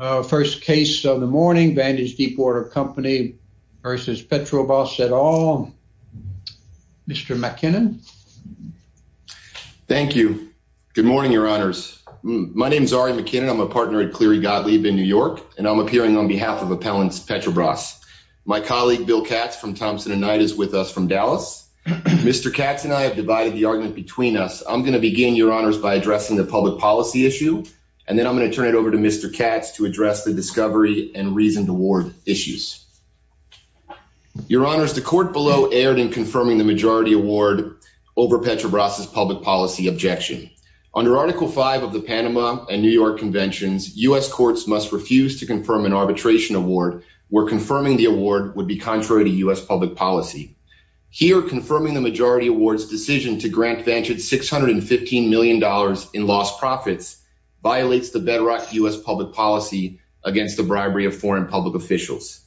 First case of the morning, Vantage Deepwater Company v. Petrobras et al. Mr. McKinnon. Thank you. Good morning, your honors. My name is Ari McKinnon. I'm a partner at Cleary Gottlieb in New York, and I'm appearing on behalf of Appellants Petrobras. My colleague Bill Katz from Thompson & Knight is with us from Dallas. Mr. Katz and I have divided the argument between us. I'm going to begin, your honors, by addressing the public policy issue, and then I'm going to hand it over to Mr. Katz to address the discovery and reasoned award issues. Your honors, the court below erred in confirming the majority award over Petrobras' public policy objection. Under Article V of the Panama and New York Conventions, U.S. courts must refuse to confirm an arbitration award where confirming the award would be contrary to U.S. public policy. Here, confirming the majority award's decision to grant Vantage $615 million in lost profits violates the bedrock U.S. public policy against the bribery of foreign public officials.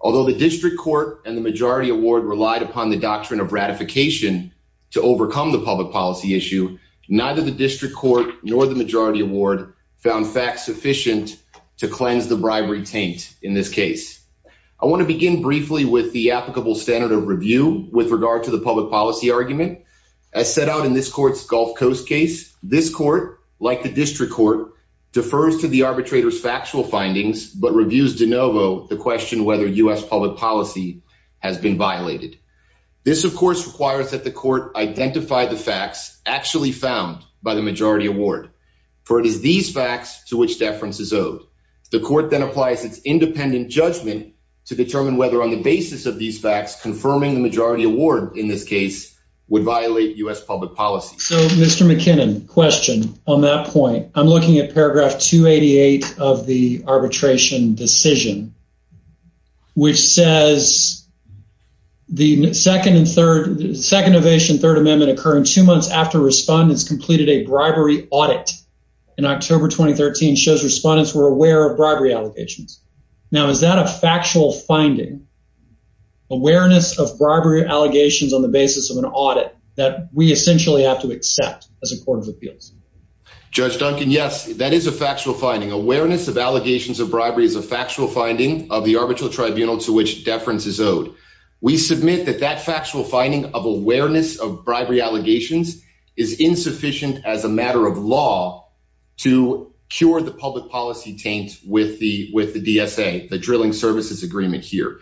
Although the district court and the majority award relied upon the doctrine of ratification to overcome the public policy issue, neither the district court nor the majority award found facts sufficient to cleanse the bribery taint in this case. I want to begin briefly with the applicable standard of review with regard to the public policy argument. As set out in this court's Gulf Coast case, this court, like the district court, defers to the arbitrator's factual findings but reviews de novo the question whether U.S. public policy has been violated. This, of course, requires that the court identify the facts actually found by the majority award, for it is these facts to which deference is owed. The court then applies its independent judgment to determine whether, on the basis of these facts, confirming the majority award in this case would violate U.S. public policy. So, Mr. McKinnon, question on that point. I'm looking at paragraph 288 of the arbitration decision, which says the second and third, second ovation, third amendment occurring two months after respondents completed a bribery audit in October 2013 shows respondents were aware of bribery allegations. Now, is that a factual finding, awareness of bribery allegations on the basis of an audit that we essentially have to accept as a court of appeals? Judge Duncan, yes, that is a factual finding. Awareness of allegations of bribery is a factual finding of the arbitral tribunal to which deference is owed. We submit that that factual finding of awareness of bribery allegations is insufficient as a matter of law to cure the public policy taint with the DSA, the drilling services agreement here.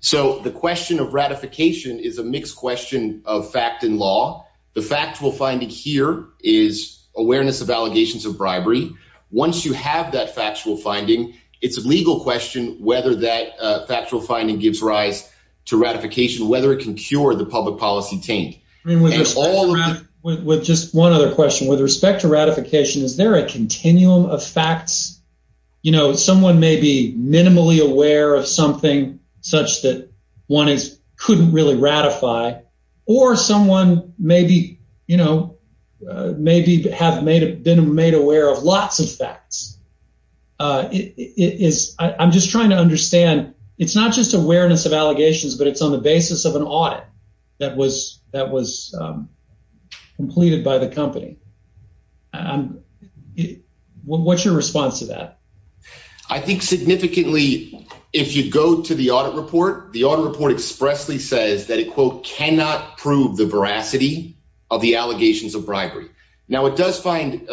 So, the question of ratification is a mixed question of fact and law. The factual finding here is awareness of allegations of bribery. Once you have that factual finding, it's a legal question whether that factual finding gives rise to ratification, whether it can cure the public Is there a continuum of facts? You know, someone may be minimally aware of something such that one couldn't really ratify or someone maybe, you know, maybe have been made aware of lots of facts. I'm just trying to understand, it's not just awareness of allegations, but it's on the What's your response to that? I think significantly, if you go to the audit report, the audit report expressly says that it, quote, cannot prove the veracity of the allegations of bribery. Now, it does find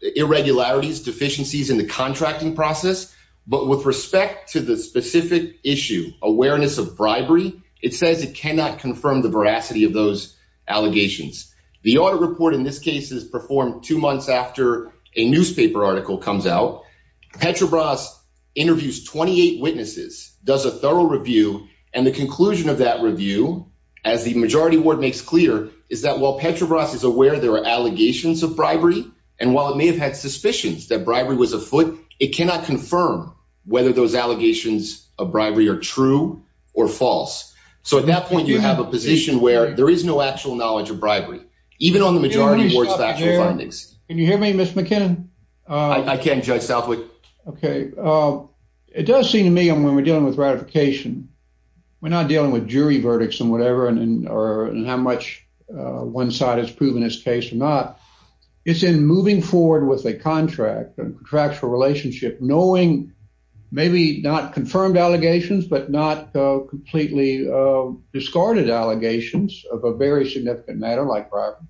irregularities, deficiencies in the contracting process, but with respect to the specific issue, awareness of bribery, it says it cannot confirm the veracity of those allegations. The audit report in this case is performed two months after a newspaper article comes out. Petrobras interviews 28 witnesses, does a thorough review, and the conclusion of that review, as the majority ward makes clear, is that while Petrobras is aware there are allegations of bribery, and while it may have had suspicions that bribery was afoot, it cannot confirm whether those allegations of bribery are true or false. So, at that point, you have a position where there is no actual knowledge of bribery, even on the majority boards of actual findings. Can you hear me, Mr. McKinnon? I can, Judge Southwick. Okay, it does seem to me, and when we're dealing with ratification, we're not dealing with jury verdicts and whatever, and how much one side has proven its case or not. It's in moving forward with a contract, a contractual relationship, knowing maybe not confirmed allegations, but not completely discarded allegations of a very significant matter like bribery.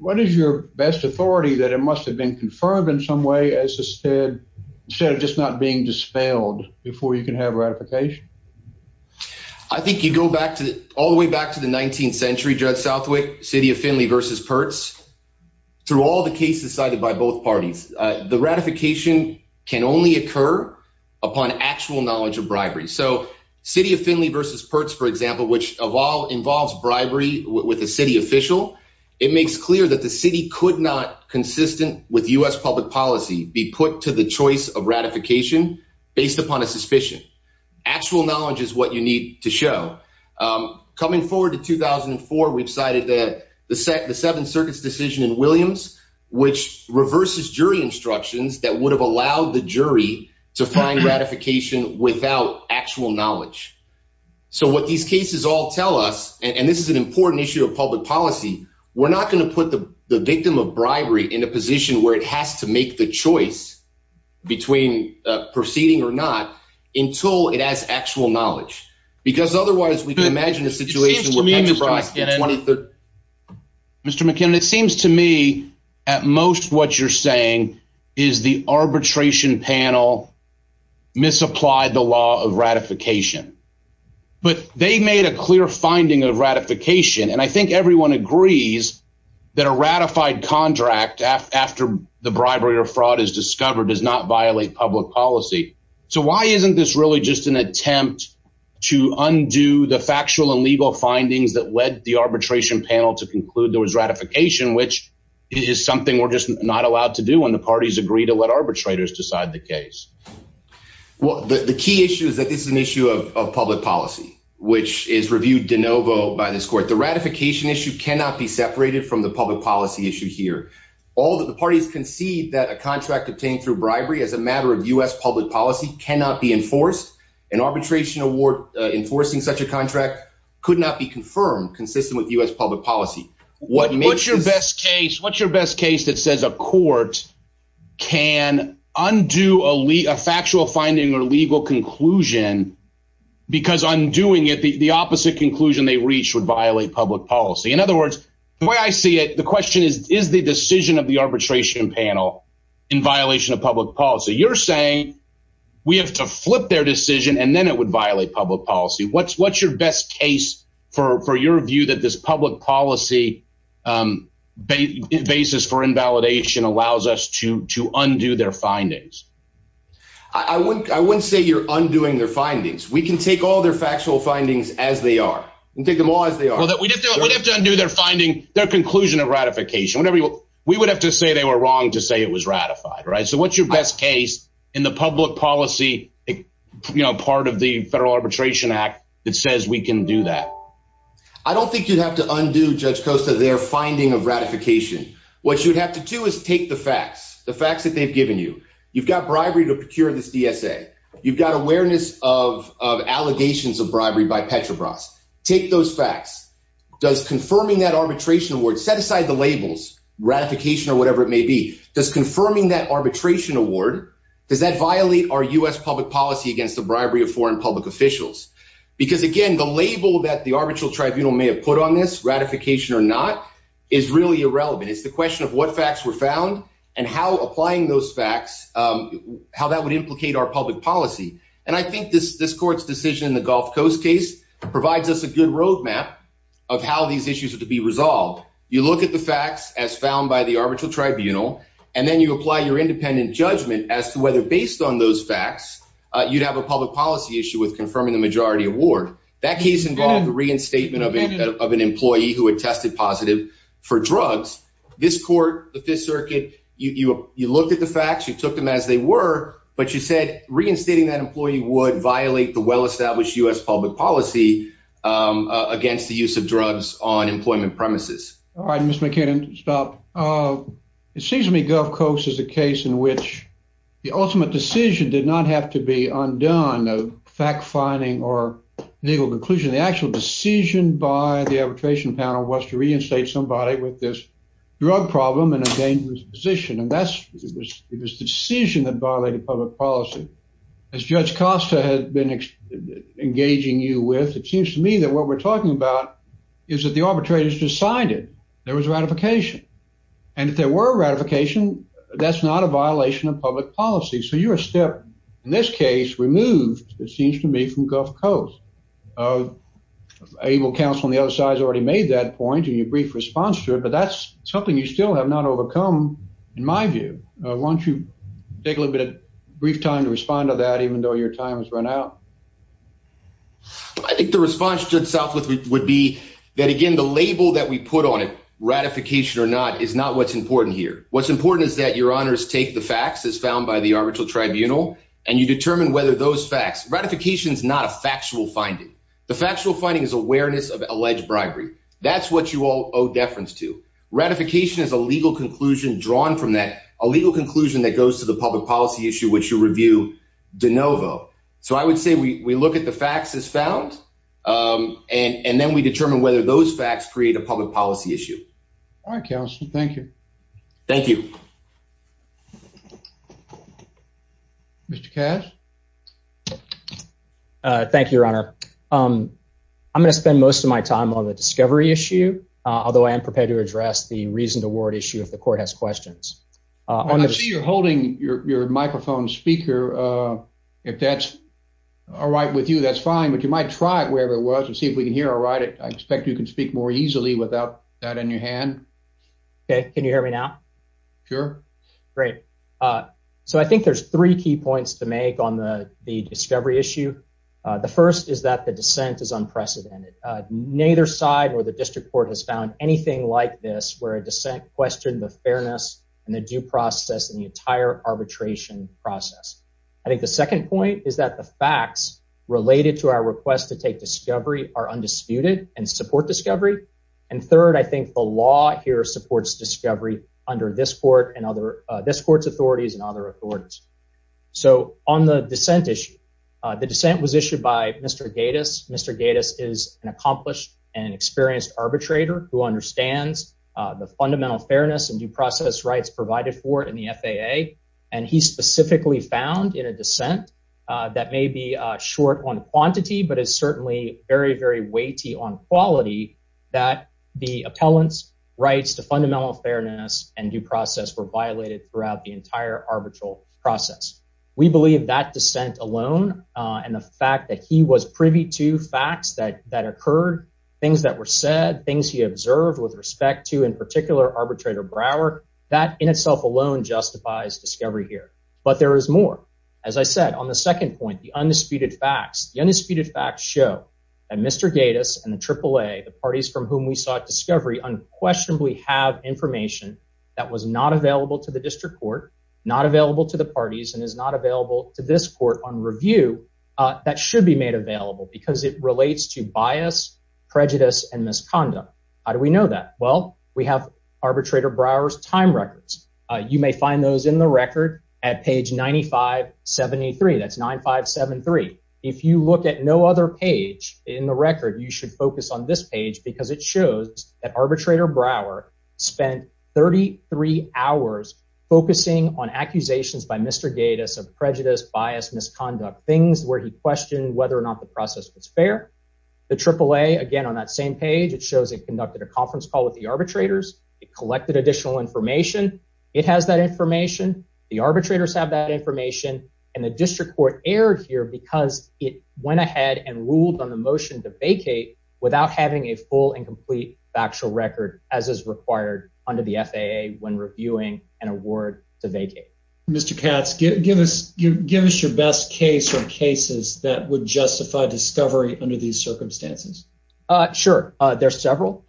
What is your best authority that it must have been confirmed in some way, instead of just not being dispelled before you can have ratification? I think you go back to, all the way back to the 19th century, Judge Southwick, City of Findlay versus Pertz, through all the cases cited by both parties, the ratification can only occur upon actual knowledge of bribery. So, City of Findlay versus Pertz, for example, which of all involves bribery with a city official, it makes clear that the city could not, consistent with U.S. public policy, be put to the choice of ratification based upon a suspicion. Actual knowledge is what you need to show. Coming forward to 2004, we've cited the Seventh Circuit's decision in Williams, which reverses jury instructions that would have allowed the jury to find ratification without actual knowledge. So, what these cases all tell us, and this is an important issue of public policy, we're not going to put the victim of bribery in a position where it has to make the choice between proceeding or not until it has to. Mr. McKinnon, it seems to me, at most, what you're saying is the arbitration panel misapplied the law of ratification. But they made a clear finding of ratification, and I think everyone agrees that a ratified contract, after the bribery or fraud is discovered, does not violate public policy. So, why isn't this really just an attempt to undo the factual and legal findings that led the arbitration panel to conclude there was ratification, which is something we're just not allowed to do when the parties agree to let arbitrators decide the case? Well, the key issue is that this is an issue of public policy, which is reviewed de novo by this court. The ratification issue cannot be separated from the public policy issue here. The parties concede that a contract obtained through bribery, as a matter of U.S. public policy, could not be confirmed consistent with U.S. public policy. What's your best case that says a court can undo a factual finding or legal conclusion because undoing it, the opposite conclusion they reach, would violate public policy? In other words, the way I see it, the question is, is the decision of the arbitration panel in violation of public policy? You're saying we have to flip their decision and then it would for your view that this public policy basis for invalidation allows us to undo their findings? I wouldn't say you're undoing their findings. We can take all their factual findings as they are. We can take them all as they are. Well, we'd have to undo their finding, their conclusion of ratification. We would have to say they were wrong to say it was ratified, right? So, what's your best case in the public policy part of the Federal Arbitration Act that we can do that? I don't think you'd have to undo, Judge Costa, their finding of ratification. What you'd have to do is take the facts, the facts that they've given you. You've got bribery to procure this DSA. You've got awareness of allegations of bribery by Petrobras. Take those facts. Does confirming that arbitration award, set aside the labels, ratification or whatever it may be, does confirming that arbitration award, does that violate our U.S. public policy against the bribery of foreign public officials? Because again, the label that the arbitral tribunal may have put on this, ratification or not, is really irrelevant. It's the question of what facts were found and how applying those facts, how that would implicate our public policy. And I think this court's decision in the Gulf Coast case provides us a good roadmap of how these issues are to be resolved. You look at the facts as found by the arbitral tribunal, and then you apply your policy issue with confirming the majority award. That case involved the reinstatement of an employee who had tested positive for drugs. This court, the Fifth Circuit, you looked at the facts, you took them as they were, but you said reinstating that employee would violate the well-established U.S. public policy against the use of drugs on employment premises. All right, Mr. McKinnon, stop. It seems to me Gulf Coast is a case in which the ultimate decision did not have to be undone, a fact-finding or legal conclusion. The actual decision by the arbitration panel was to reinstate somebody with this drug problem in a dangerous position. And that's, it was the decision that violated public policy. As Judge Costa has been engaging you with, it seems to me that what we're talking about is that the arbitrators decided there was a ratification. And if there were a ratification, that's not a violation of public policy. So you're a step, in this case, removed, it seems to me, from Gulf Coast. Able counsel on the other side has already made that point in your brief response to it, but that's something you still have not overcome, in my view. Why don't you take a little bit of brief time to respond to that, even though your time has run out? I think the response, Judge Southwood, would be that, again, the label that we put on it, ratification or not, is not what's important here. What's important is that your honors take the facts as found by the arbitral tribunal, and you determine whether those facts, ratification is not a factual finding. The factual finding is awareness of alleged bribery. That's what you all owe deference to. Ratification is a legal conclusion drawn from that, a legal conclusion that goes to public policy issue, which you review de novo. So I would say we look at the facts as found, and then we determine whether those facts create a public policy issue. All right, counsel. Thank you. Thank you. Mr. Cash? Thank you, Your Honor. I'm going to spend most of my time on the discovery issue, although I am prepared to address the reasoned award issue if the court has questions. I see you're holding your microphone speaker. If that's all right with you, that's fine, but you might try it wherever it was and see if we can hear all right. I expect you can speak more easily without that in your hand. Okay. Can you hear me now? Sure. Great. So I think there's three key points to make on the discovery issue. The first is that the dissent is unprecedented. Neither side or the district court has found anything like this, where a dissent questioned the fairness and the due process in the entire arbitration process. I think the second point is that the facts related to our request to take discovery are undisputed and support discovery. And third, I think the law here supports discovery under this court and other this court's authorities and other authorities. So on the dissent issue, the dissent was issued by Mr. Gatiss. Mr. Gatiss is an accomplished and experienced arbitrator who understands the fundamental fairness and due process rights provided for in the FAA. And he specifically found in a dissent that may be short on quantity, but it's certainly very, very weighty on quality that the appellants rights to fundamental fairness and due process were violated throughout the entire arbitral process. We believe that dissent alone and the fact that he was privy to facts that occurred, things that were said, things he observed with respect to in particular arbitrator Brower, that in itself alone justifies discovery here. But there is more. As I said, on the second point, the undisputed facts, the undisputed facts show that Mr. Gatiss and the AAA, the parties from whom we sought discovery unquestionably have information that was not available to the district court, not available to the parties and is not available to this court on review that should be made available because it relates to bias, prejudice, and misconduct. How do we know that? Well, we have arbitrator Brower's time records. You may find those in the record at page 9573. That's 9573. If you look at no other page in the record, you should focus on this page because it shows that arbitrator Brower spent 33 hours focusing on accusations by Mr. Gatiss of prejudice, bias, misconduct, things where he questioned whether or not the process was fair. The AAA, again, on that same page, it shows it conducted a conference call with the arbitrators. It collected additional information. It has that information. The arbitrators have that information. And the district court erred here because it went ahead and ruled on the motion to vacate without having a full and complete factual record as is required under the FAA when reviewing an award to vacate. Mr. Katz, give us your best case or cases that would justify discovery under these circumstances. Sure. There's several.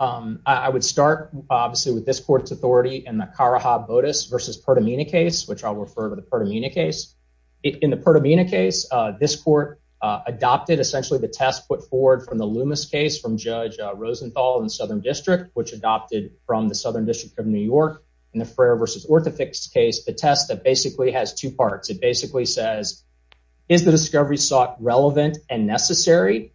I would start, obviously, with this court's authority in the Karaha-Bodas versus Pertamina case, which I'll refer to the Pertamina case. In the Pertamina case, this court adopted essentially the test put forward from the district, which adopted from the Southern District of New York in the Frayer versus Orthofix case, the test that basically has two parts. It basically says, is the discovery sought relevant and necessary?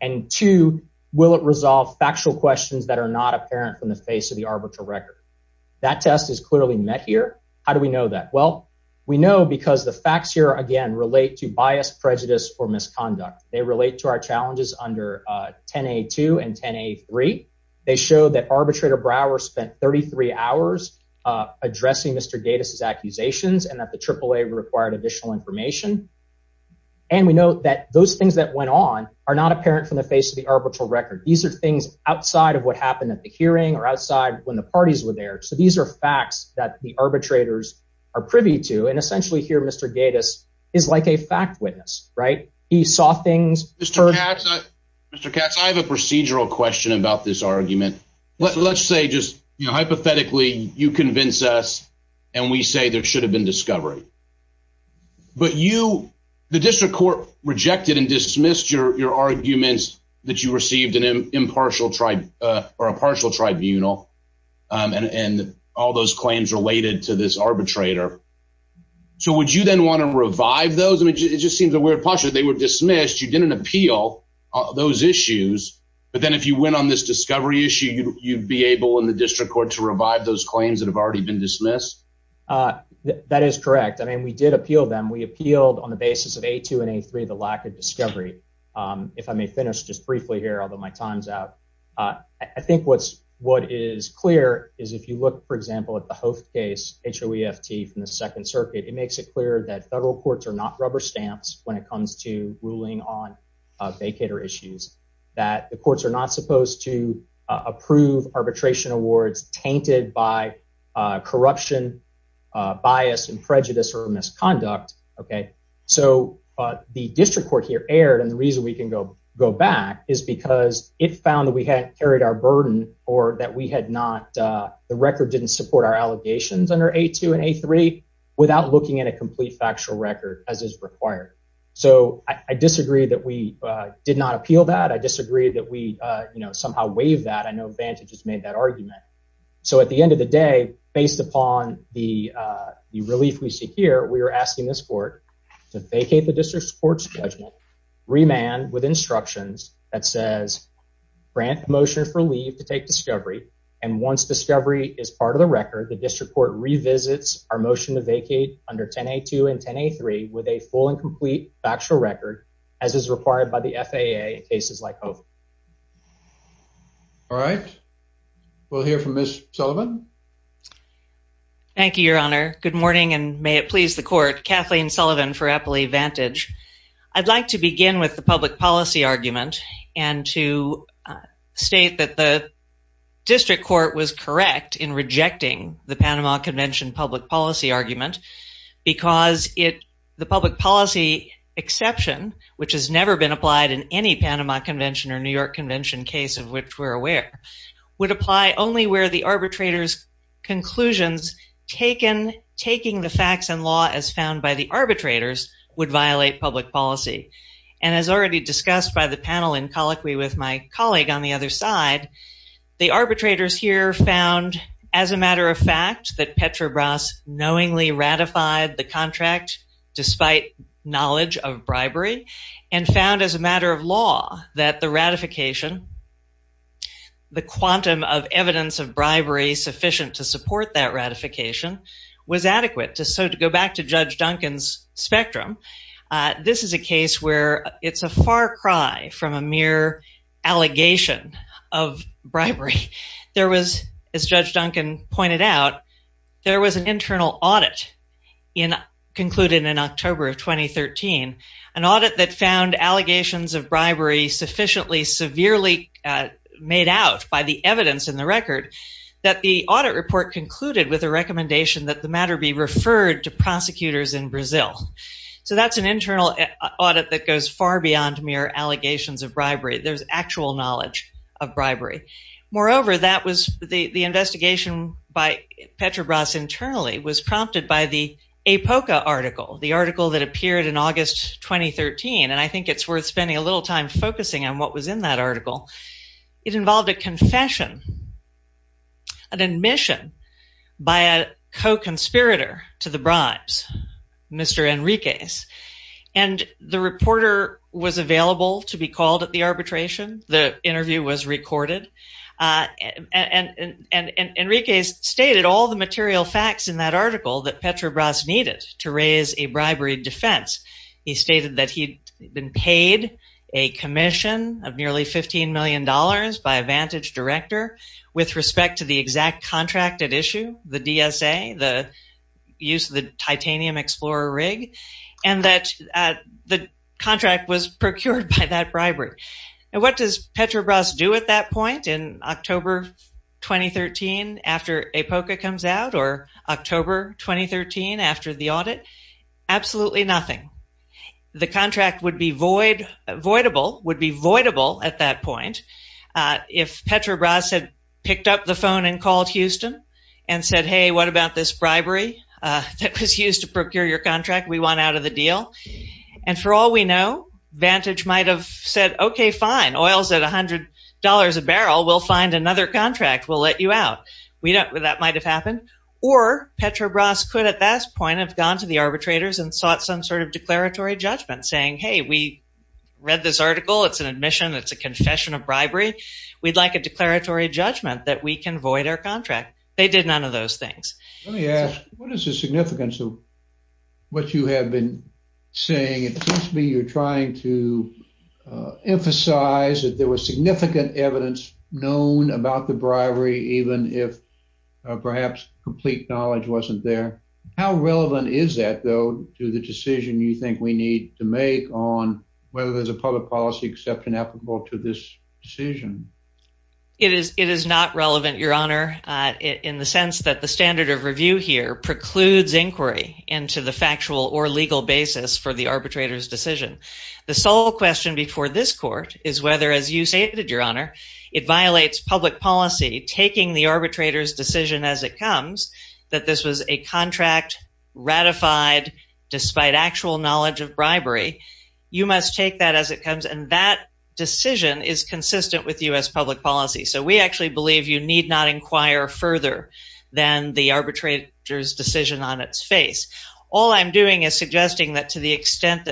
And two, will it resolve factual questions that are not apparent from the face of the arbitral record? That test is clearly met here. How do we know that? Well, we know because the facts here, again, relate to bias, prejudice or misconduct. They relate to our show that arbitrator Brower spent 33 hours addressing Mr. Gatiss' accusations and that the AAA required additional information. And we know that those things that went on are not apparent from the face of the arbitral record. These are things outside of what happened at the hearing or outside when the parties were there. So these are facts that the arbitrators are privy to. And essentially here, Mr. Gatiss is like a fact witness, right? He saw things. Mr. Gatiss, I have a procedural question about this argument. Let's say just hypothetically, you convince us and we say there should have been discovery. But you, the district court, rejected and dismissed your arguments that you received an impartial tribunal and all those claims related to this arbitrator. So would you then want to revive those? I mean, it just seems a weird posture. They were dismissed. You didn't appeal those issues. But then if you went on this discovery issue, you'd be able in the district court to revive those claims that have already been dismissed. That is correct. I mean, we did appeal them. We appealed on the basis of a two and a three, the lack of discovery. If I may finish just briefly here, although my time's out, I think what's what is clear is if you look, for example, at the host case, H.O.E.F.T. from the Second Circuit, it makes it clear that federal courts are not rubber stamps when it comes to ruling on vacater issues, that the courts are not supposed to approve arbitration awards tainted by corruption, bias and prejudice or misconduct. OK, so the district court here erred. And the reason we can go back is because it found that we had carried our burden or that we had not. The record didn't support our allegations under a two and a three without looking at a complete factual record as is required. So I disagree that we did not appeal that. I disagree that we somehow waive that. I know Vantage has made that argument. So at the end of the day, based upon the relief we see here, we are asking this court to vacate the district court's judgment, remand with instructions that says, grant motion for leave to take discovery. And once discovery is part of the record, the district court revisits our motion to vacate under 10A2 and 10A3 with a full and complete factual record as is required by the FAA in cases like H.O.E.F.T. All right. We'll hear from Ms. Sullivan. Thank you, Your Honor. Good morning and may it please the court, Kathleen Sullivan for Appley Vantage. I'd like to begin with the public policy argument and to state that the district court was correct in rejecting the Panama Convention public policy argument because the public policy exception, which has never been applied in any Panama Convention or New York Convention case of which we're aware, would apply only where the arbitrator's conclusions taking the facts and law as found by the arbitrators would violate public policy. And as already discussed by the panel in colloquy with my colleague on the other side, the arbitrators here found as a matter of fact that Petrobras knowingly ratified the contract despite knowledge of bribery and found as a matter of law that the ratification, the quantum of evidence of bribery sufficient to support that ratification was adequate. So to go back to Judge Duncan's spectrum, this is a case where it's a far cry from a mere allegation of bribery. There was, as Judge Duncan pointed out, there was an internal audit concluded in October of 2013, an audit that found allegations of bribery sufficiently severely made out by the evidence in the record that the audit report concluded with a recommendation that the matter be referred to prosecutors in Brazil. So that's an internal audit that goes far beyond mere allegations of bribery. There's actual knowledge of bribery. Moreover, that was the investigation by Petrobras internally was prompted by the APOCA article, the article that appeared in the article. It involved a confession, an admission by a co-conspirator to the bribes, Mr. Enriquez. And the reporter was available to be called at the arbitration. The interview was recorded. And Enriquez stated all the material facts in that article that Petrobras needed to by a vantage director with respect to the exact contract at issue, the DSA, the use of the titanium explorer rig, and that the contract was procured by that bribery. And what does Petrobras do at that point in October 2013 after APOCA comes out or October 2013 after the audit? Absolutely nothing. The contract would be void, voidable, would be voidable at that point. If Petrobras had picked up the phone and called Houston and said, hey, what about this bribery that was used to procure your contract? We want out of the deal. And for all we know, Vantage might have said, okay, fine. Oil's at $100 a barrel. We'll find another contract. We'll let you out. That might have happened. Or Petrobras could at that point have gone to the arbitrators and sought some sort of declaratory judgment saying, hey, we read this article. It's an admission. It's a confession of bribery. We'd like a declaratory judgment that we can void our contract. They did none of those things. Let me ask, what is the significance of what you have been saying? It seems to me you're trying to emphasize that there was significant evidence known about the bribery, even if perhaps complete knowledge wasn't there. How relevant is that, though, to the decision you think we need to make on whether there's a public policy exception applicable to this decision? It is not relevant, Your Honor, in the sense that the standard of review here precludes inquiry into the factual or legal basis for the arbitrator's decision. The sole question before this court is whether, as you stated, Your Honor, it violates public policy, taking the arbitrator's decision as it comes, that this was a contract ratified despite actual knowledge of bribery. You must take that as it comes. And that decision is consistent with U.S. public policy. So we actually believe you need not inquire further than the arbitrator's that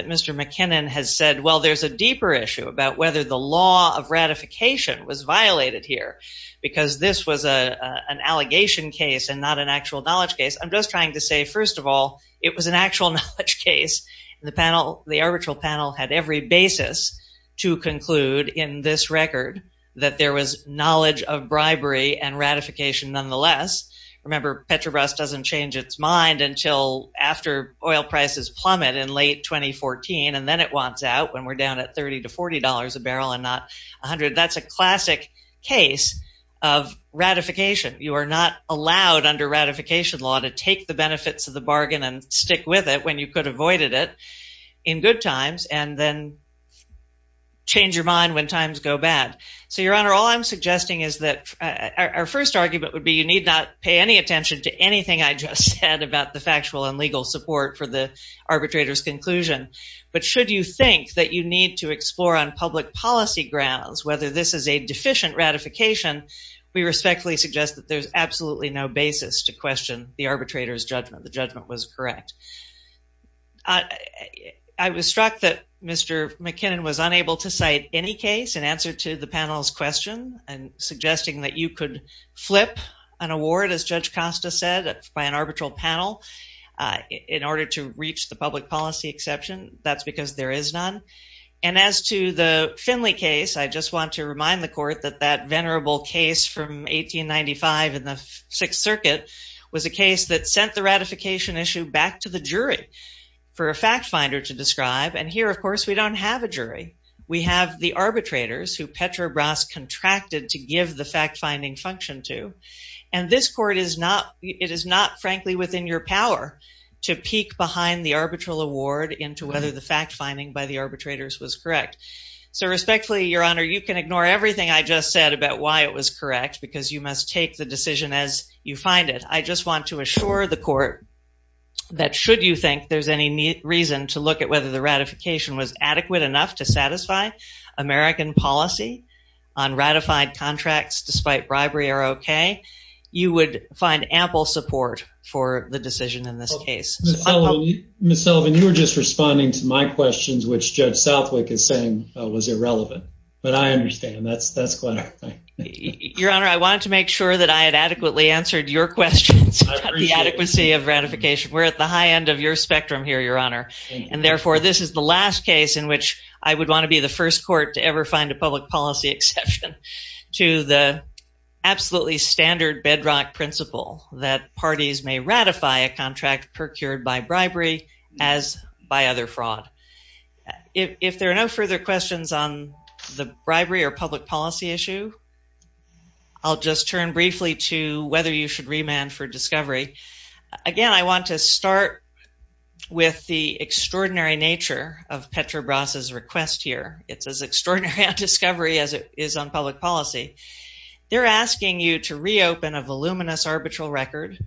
Mr. McKinnon has said, well, there's a deeper issue about whether the law of ratification was violated here, because this was an allegation case and not an actual knowledge case. I'm just trying to say, first of all, it was an actual knowledge case. The panel, the arbitral panel, had every basis to conclude in this record that there was knowledge of bribery and ratification nonetheless. Remember, Petrobras doesn't change its mind until after oil prices plummet in late 2014, and then it wants out when we're down at $30 to $40 a barrel and not $100. That's a classic case of ratification. You are not allowed under ratification law to take the benefits of the bargain and stick with it when you could have avoided it in good times and then change your mind. Our first argument would be you need not pay any attention to anything I just said about the factual and legal support for the arbitrator's conclusion. But should you think that you need to explore on public policy grounds whether this is a deficient ratification, we respectfully suggest that there's absolutely no basis to question the arbitrator's judgment. The judgment was correct. I was struck that Mr. McKinnon was unable to cite any case in answer to the panel's question and suggesting that you could flip an award, as Judge Costa said, by an arbitral panel in order to reach the public policy exception. That's because there is none. And as to the Finley case, I just want to remind the court that that venerable case from 1895 in the Sixth Circuit was a case that sent the ratification issue back to the jury for a fact finder to describe. And here, of course, we don't have a jury. We have the arbitrators who Petrobras contracted to give the fact-finding function to. And this court is not, it is not frankly within your power to peek behind the arbitral award into whether the fact-finding by the arbitrators was correct. So respectfully, Your Honor, you can ignore everything I just said about why it was correct because you must take the decision as you find it. I just want to assure the court that should you think there's any reason to look at whether the ratification was adequate enough to satisfy American policy on ratified contracts despite bribery are okay, you would find ample support for the decision in this case. Ms. Sullivan, you were just responding to my questions which Judge Southwick is saying was irrelevant, but I understand. That's quite all right. Your Honor, I wanted to make sure that I had adequately answered your questions about the adequacy of ratification. We're at the high end of your spectrum here, Your Honor. And therefore, this is the last case in which I would want to be the first court to ever find a public policy exception to the absolutely standard bedrock principle that parties may ratify a contract procured by bribery as by other fraud. If there are no further questions on the bribery or public policy issue, I'll just turn briefly to whether you should remand for discovery. Again, I want to start with the extraordinary nature of Petrobras' request here. It's as extraordinary a discovery as it is on public policy. They're asking you to reopen a voluminous arbitral record,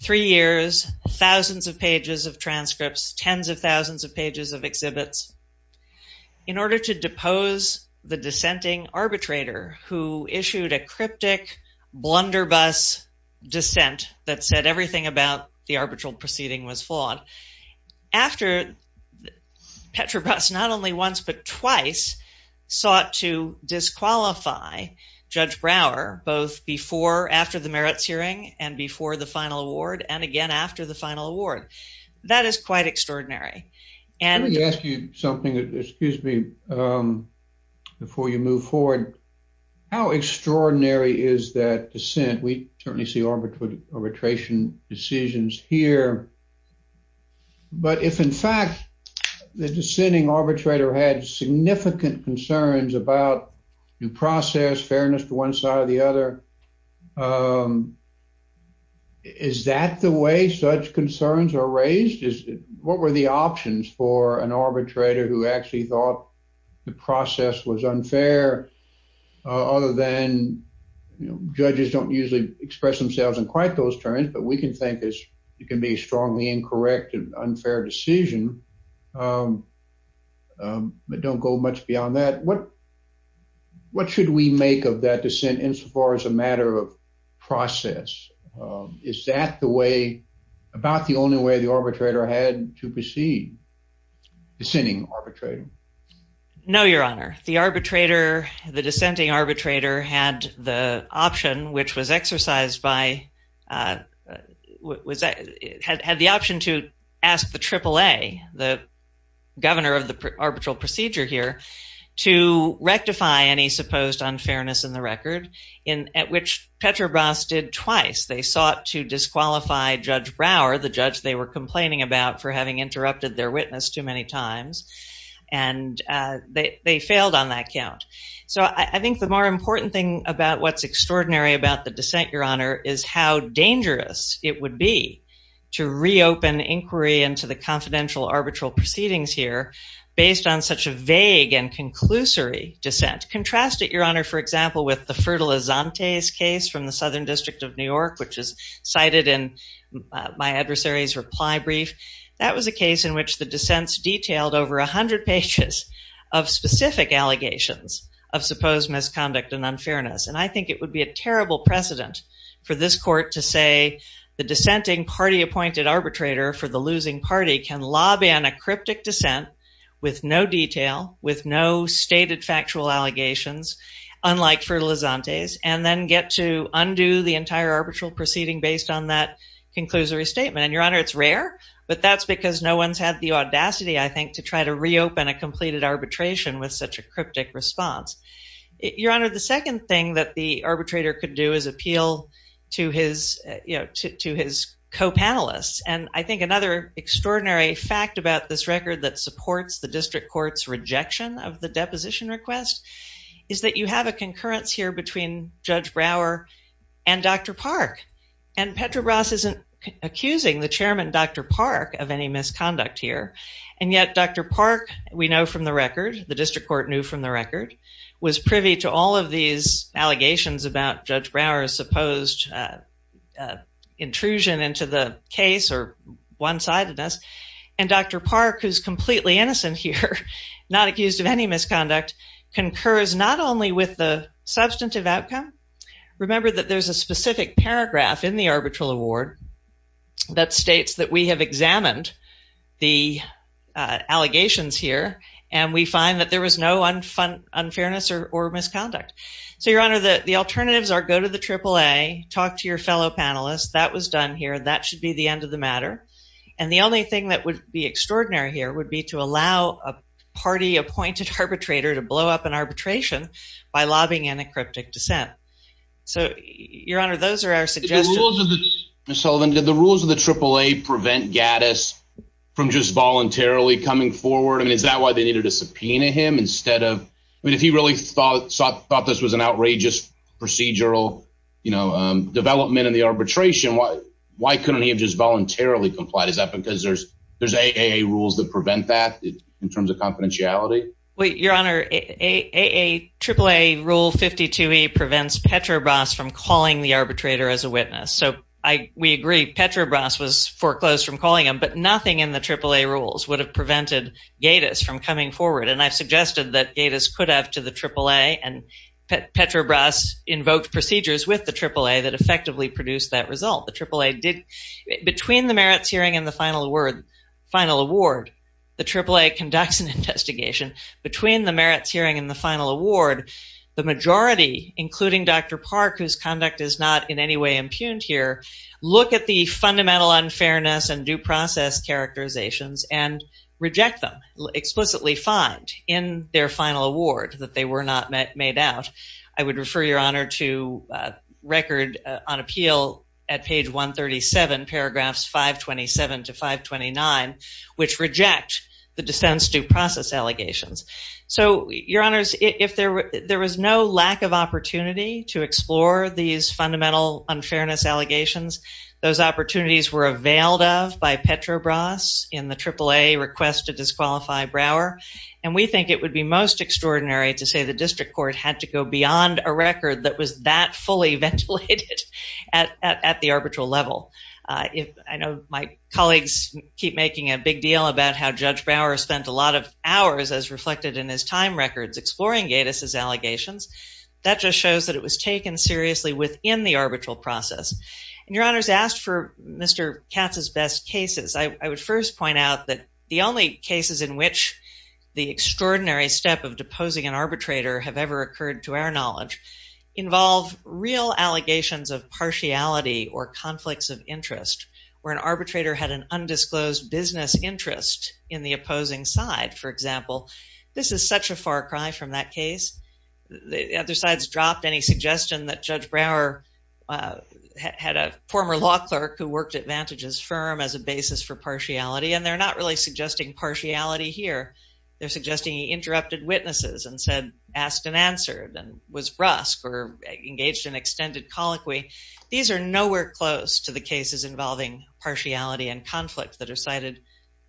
three years, thousands of pages of transcripts, tens of thousands of pages of exhibits, in order to depose the dissenting arbitrator who issued a cryptic blunderbuss dissent that said everything about the arbitral proceeding was flawed. After Petrobras, not only once but twice, sought to disqualify Judge Brower, both before, after the merits hearing, and before the final award, and again after the final award. That is quite extraordinary. Let me ask you something, excuse me, before you move forward. How extraordinary is that dissent? We certainly see arbitration decisions here, but if in fact the dissenting arbitrator had significant concerns about due process, fairness to one side or the other, is that the way such concerns are raised? What were the options for an arbitrator who actually thought the process was unfair, other than judges don't usually express themselves in quite those terms, but we can think it can be a strongly incorrect and unfair decision, but don't go much beyond that. What should we make of that dissent insofar as a matter of process? Is that the way, about the only way the arbitrator had to proceed, dissenting arbitrator? No, your honor. The arbitrator, the dissenting arbitrator, had the option which was exercised by, had the option to ask the AAA, the governor of the arbitral procedure here, to rectify any supposed unfairness in the record, at which Petrobras did twice. They sought to disqualify Judge Brower, the judge they were complaining about for having interrupted their witness too many times, and they failed on that count. So I think the more important thing about what's extraordinary about the dissent, your honor, is how dangerous it would be to reopen inquiry into the confidential arbitral proceedings here, based on such a vague and conclusory dissent. Contrast it, your honor, for example, with the Fertilizantes case from the which the dissents detailed over a hundred pages of specific allegations of supposed misconduct and unfairness. And I think it would be a terrible precedent for this court to say the dissenting party appointed arbitrator for the losing party can lobby on a cryptic dissent with no detail, with no stated factual allegations, unlike Fertilizantes, and then get to undo the entire arbitral proceeding based on that conclusory statement. And your honor, it's rare, but that's because no one's had the audacity, I think, to try to reopen a completed arbitration with such a cryptic response. Your honor, the second thing that the arbitrator could do is appeal to his, you know, to his co-panelists. And I think another extraordinary fact about this record that supports the district court's rejection of the deposition request is that you have a concurrence here between Judge Brower and Dr. Park. And Petrobras isn't accusing the chairman, Dr. Park, of any misconduct here. And yet Dr. Park, we know from the record, the district court knew from the record, was privy to all of these allegations about Judge Brower's supposed intrusion into the case or one-sidedness. And Dr. Park, who's completely innocent here, not accused of any misconduct, concurs not only with the substantive outcome. Remember that there's a specific paragraph in the arbitral award that states that we have examined the allegations here and we find that there was no unfairness or misconduct. So your honor, the alternatives are go to the AAA, talk to your fellow panelists. That was done here. That should be the end of the matter. And the only thing that would be extraordinary here would be to allow a party-appointed arbitrator to blow up an arbitration by lobbying in a cryptic dissent. So your honor, those are our suggestions. Ms. Sullivan, did the rules of the AAA prevent Gaddis from just voluntarily coming forward? I mean, is that why they needed to subpoena him instead of, I mean, if he really thought this was an outrageous procedural development in the arbitration, why couldn't he have just voluntarily complied? Is that because there's AAA rules that in terms of confidentiality? Well, your honor, AAA rule 52E prevents Petrobras from calling the arbitrator as a witness. So we agree Petrobras was foreclosed from calling him, but nothing in the AAA rules would have prevented Gaddis from coming forward. And I've suggested that Gaddis could have to the AAA and Petrobras invoked procedures with the AAA that effectively produced that result. The AAA did, between the merits hearing and the final award, the AAA conducts an investigation between the merits hearing and the final award. The majority, including Dr. Park, whose conduct is not in any way impugned here, look at the fundamental unfairness and due process characterizations and reject them, explicitly find in their final award that they were not made out. I would refer your honor to a record on appeal at page 137, paragraphs 527 to 529, which reject the dissents due process allegations. So your honors, if there was no lack of opportunity to explore these fundamental unfairness allegations, those opportunities were availed of by Petrobras in the AAA request to disqualify Brower. And we think it would be most extraordinary to say the district court had to go beyond a record that was that fully ventilated at the arbitral level. I know my colleagues keep making a big deal about how Judge Brower spent a lot of hours, as reflected in his time records, exploring Gaddis's allegations. That just shows that it was taken seriously within the arbitral process. And your honors asked for Mr. Katz's best cases. I would first point out that the only cases in which the extraordinary step of deposing an arbitrator is a case of partiality or conflicts of interest, where an arbitrator had an undisclosed business interest in the opposing side, for example, this is such a far cry from that case. The other sides dropped any suggestion that Judge Brower had a former law clerk who worked at Vantage's firm as a basis for partiality. And they're not really suggesting partiality here. They're suggesting he interrupted witnesses and said, asked and answered and was brusque or engaged in extended colloquy. These are nowhere close to the cases involving partiality and conflict that are cited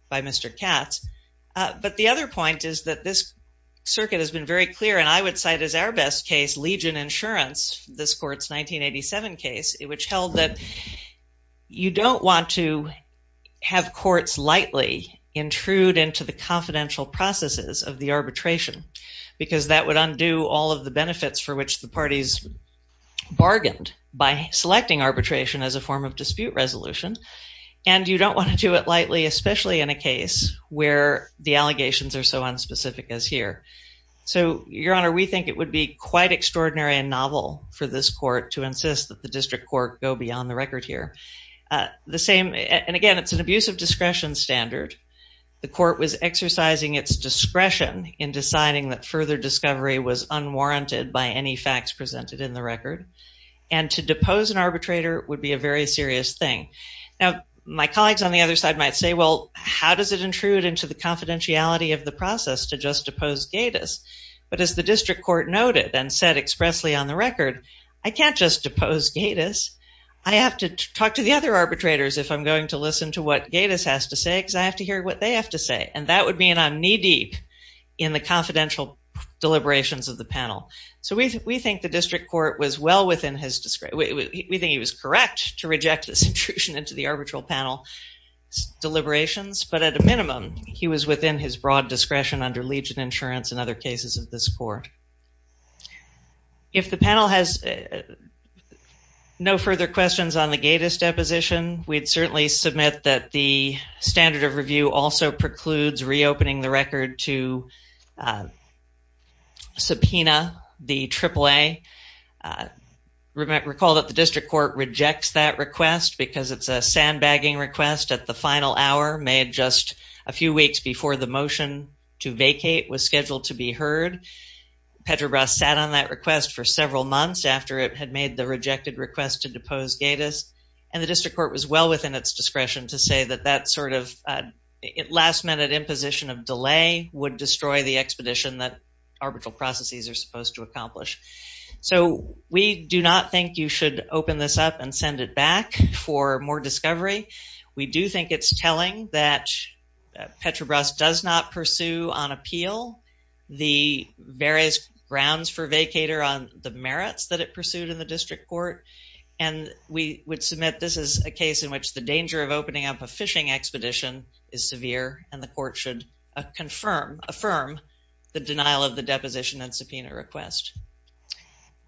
by Mr. Katz. But the other point is that this circuit has been very clear. And I would cite as our best case, Legion Insurance, this court's 1987 case, which held that you don't want to have courts lightly intrude into the confidential processes of the arbitration, because that would undo all of the benefits for which the court bargained by selecting arbitration as a form of dispute resolution. And you don't want to do it lightly, especially in a case where the allegations are so unspecific as here. So, Your Honor, we think it would be quite extraordinary and novel for this court to insist that the district court go beyond the record here. The same, and again, it's an abuse of discretion standard. The court was exercising its discretion in deciding that further discovery was unwarranted by any facts presented in the record. And to depose an arbitrator would be a very serious thing. Now, my colleagues on the other side might say, well, how does it intrude into the confidentiality of the process to just depose Gatiss? But as the district court noted and said expressly on the record, I can't just depose Gatiss. I have to talk to the other arbitrators if I'm going to listen to what Gatiss has to say, because I have to hear what they have to say. And that would mean I'm knee-deep in the confidential deliberations of the panel. So we think the district court was well within his discretion. We think he was correct to reject this intrusion into the arbitral panel deliberations, but at a minimum, he was within his broad discretion under legion insurance and other cases of this court. If the panel has no further questions on the Gatiss deposition, we'd certainly submit that the standard of review also precludes reopening the record to subpoena the AAA. Recall that the district court rejects that request because it's a sandbagging request at the final hour made just a few weeks before the motion to vacate was scheduled to be heard. Petrobras sat on that request for several months after it had made the rejected request to depose Gatiss, and the district court was well within its discretion to say that that sort of last-minute imposition of delay would destroy the expedition that arbitral processes are supposed to accomplish. So we do not think you should open this up and send it back for more discovery. We do think it's telling that Petrobras does not pursue on appeal the various grounds for vacator on the merits that it pursued in the district court, and we would submit this is a case in which the danger of opening up a fishing expedition is severe, and the court should affirm the denial of the deposition and subpoena request.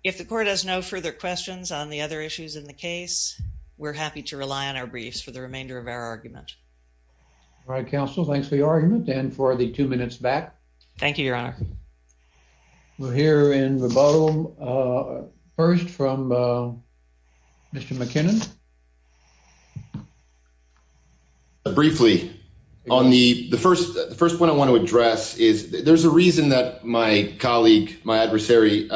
If the court has no further questions on the other issues in the case, we're happy to rely on our briefs for the remainder of our argument. All right, counsel, thanks for your argument and for the two minutes back. Thank you, your honor. We'll hear in rebuttal first from Mr. McKinnon. Briefly, the first point I want to address is there's a reason that my colleague, my adversary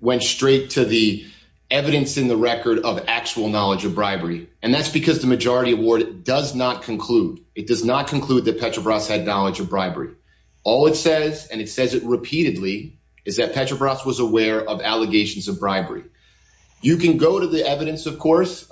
went straight to the evidence in the record of actual knowledge of bribery, and that's because the majority award does not conclude. It does not conclude that Petrobras had knowledge of bribery. All it says, and it says it repeatedly, is that Petrobras was aware of allegations of bribery. You can go to the evidence, of course,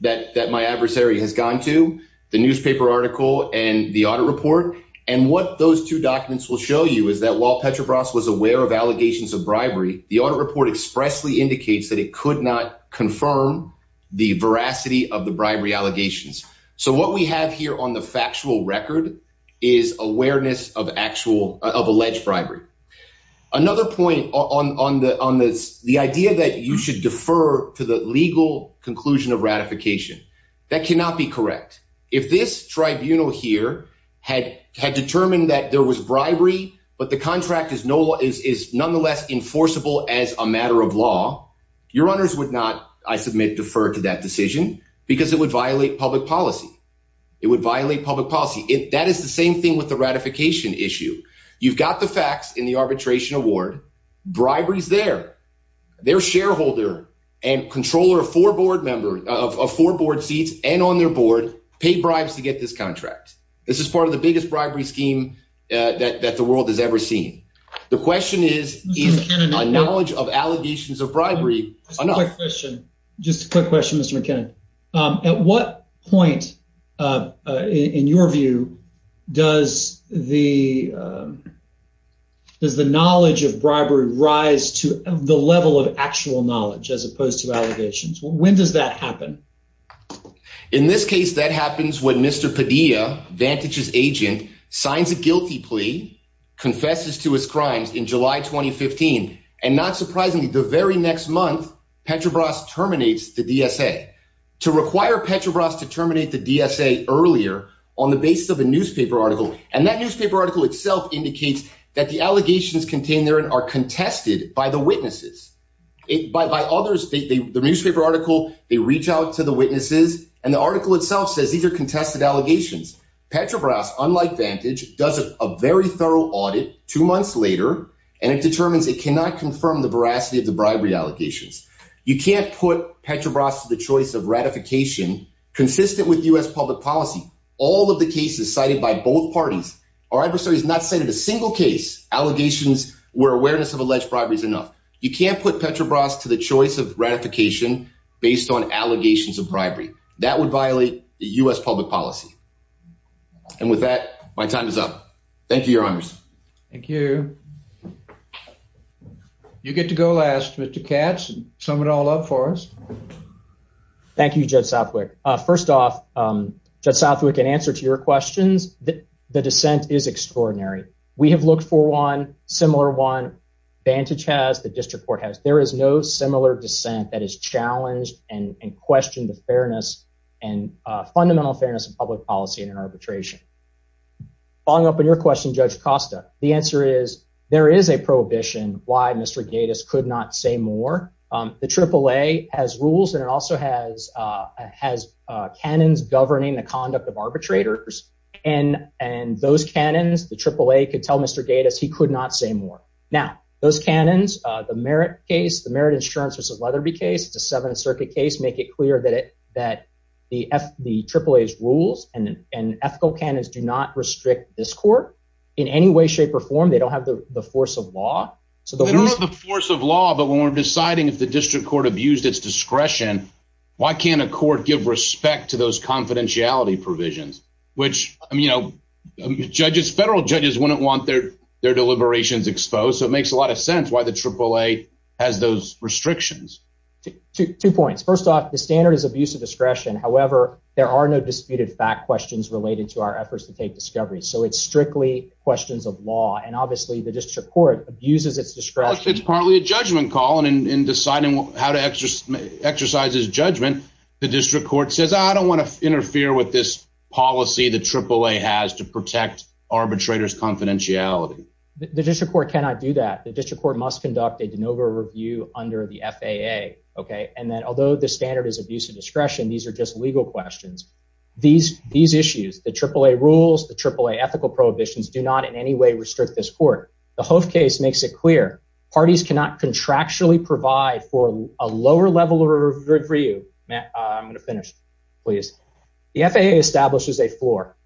that my adversary has gone to, the newspaper article and the audit report, and what those two documents will show you is that while Petrobras was aware of allegations of bribery, the audit report expressly indicates that it could not confirm the veracity of the bribery allegations. So what we have here on the factual record is awareness of alleged bribery. Another point on the idea that you should defer to the legal conclusion of ratification. That cannot be correct. If this tribunal here had determined that there was bribery, but the contract is nonetheless enforceable as a matter of law, your honors would not, I submit, defer to that decision because it would violate public policy. It would violate public policy. That is the same thing with the ratification issue. You've got the facts in the arbitration award. Bribery's there. Their shareholder and controller of four board seats and on their board pay bribes to get this contract. This is part of the biggest bribery scheme that the world has ever seen. The question is, is a knowledge of allegations of bribery enough? Just a quick question, Mr. McKinnon. At what point, in your view, does the does the knowledge of bribery rise to the level of actual knowledge as opposed to allegations? When does that happen? In this case, that happens when Mr. Padilla, Vantage's agent, signs a guilty plea, confesses to his crimes in July 2015, and not surprisingly, the very next month, Petrobras terminates the DSA. To require Petrobras to terminate the DSA earlier on the basis of a newspaper article, and that newspaper article itself indicates that the allegations contained there are contested by the witnesses. By others, the newspaper article, they reach out to the witnesses, and the article itself says these are contested allegations. Petrobras, unlike Vantage, does a very thorough audit two months later, and it determines it cannot confirm the veracity of the bribery allegations. You can't put Petrobras to the choice of ratification consistent with U.S. public policy. All of the cases cited by both parties, our adversary has not cited a single case, allegations where awareness of alleged bribery is enough. You can't put Petrobras to the choice of ratification based on allegations of bribery. That would violate U.S. public policy. And with that, my time is up. Thank you, your honors. Thank you. You get to go last, Mr. Katz. Sum it all up for us. Thank you, Judge Southwick. First off, Judge Southwick, in answer to your questions, the dissent is extraordinary. We have looked for one, similar one. Vantage has, the district court has. There is no similar dissent that is challenged and questioned the fairness and fundamental fairness in public policy and in arbitration. Following up on your question, Judge Costa, the answer is there is a prohibition why Mr. Gatiss could not say more. The AAA has rules and it also has canons governing the conduct of arbitrators. And those canons, the AAA could tell Mr. Gatiss he could not say more. Now, those canons, the merit case, the merit insurance versus Leatherby case, it's a Seventh Circuit case, make it clear that the AAA's rules and ethical canons do not restrict this court in any way, shape or form. They don't have the force of law. They don't have the force of law, but when we're deciding if the district court abused its discretion, why can't a court give respect to those confidentiality provisions, which, you know, judges, federal judges wouldn't want their deliberations exposed. So it makes a sense that the AAA has those restrictions. Two points. First off, the standard is abuse of discretion. However, there are no disputed fact questions related to our efforts to take discovery. So it's strictly questions of law. And obviously the district court abuses its discretion. It's partly a judgment call. And in deciding how to exercise his judgment, the district court says, I don't want to interfere with this policy the AAA has to protect arbitrators' confidentiality. The district court cannot do that. The district court must conduct a de novo review under the FAA. Okay. And then although the standard is abuse of discretion, these are just legal questions. These, these issues, the AAA rules, the AAA ethical prohibitions do not in any way restrict this court. The Hove case makes it clear parties cannot contractually provide for a lower level of review. Matt, I'm going to finish, please. The FAA establishes a floor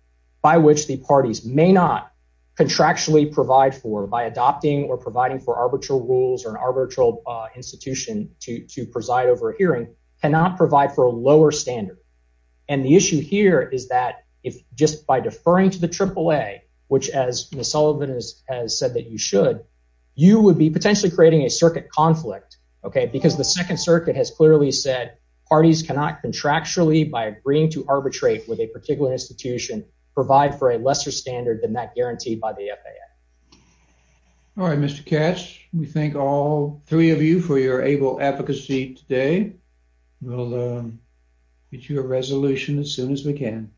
by which the parties may not contractually provide for by adopting or providing for arbitral rules or an arbitral institution to preside over a hearing cannot provide for a lower standard. And the issue here is that if just by deferring to the AAA, which as Ms. Sullivan has said that you should, you would be potentially creating a circuit conflict. Okay. Because the second circuit has clearly said parties cannot contractually by agreeing to arbitrate with a particular institution provide for a lesser standard than that guaranteed by the FAA. All right, Mr. Katz, we thank all three of you for your able advocacy today. We'll get you a resolution as soon as we can.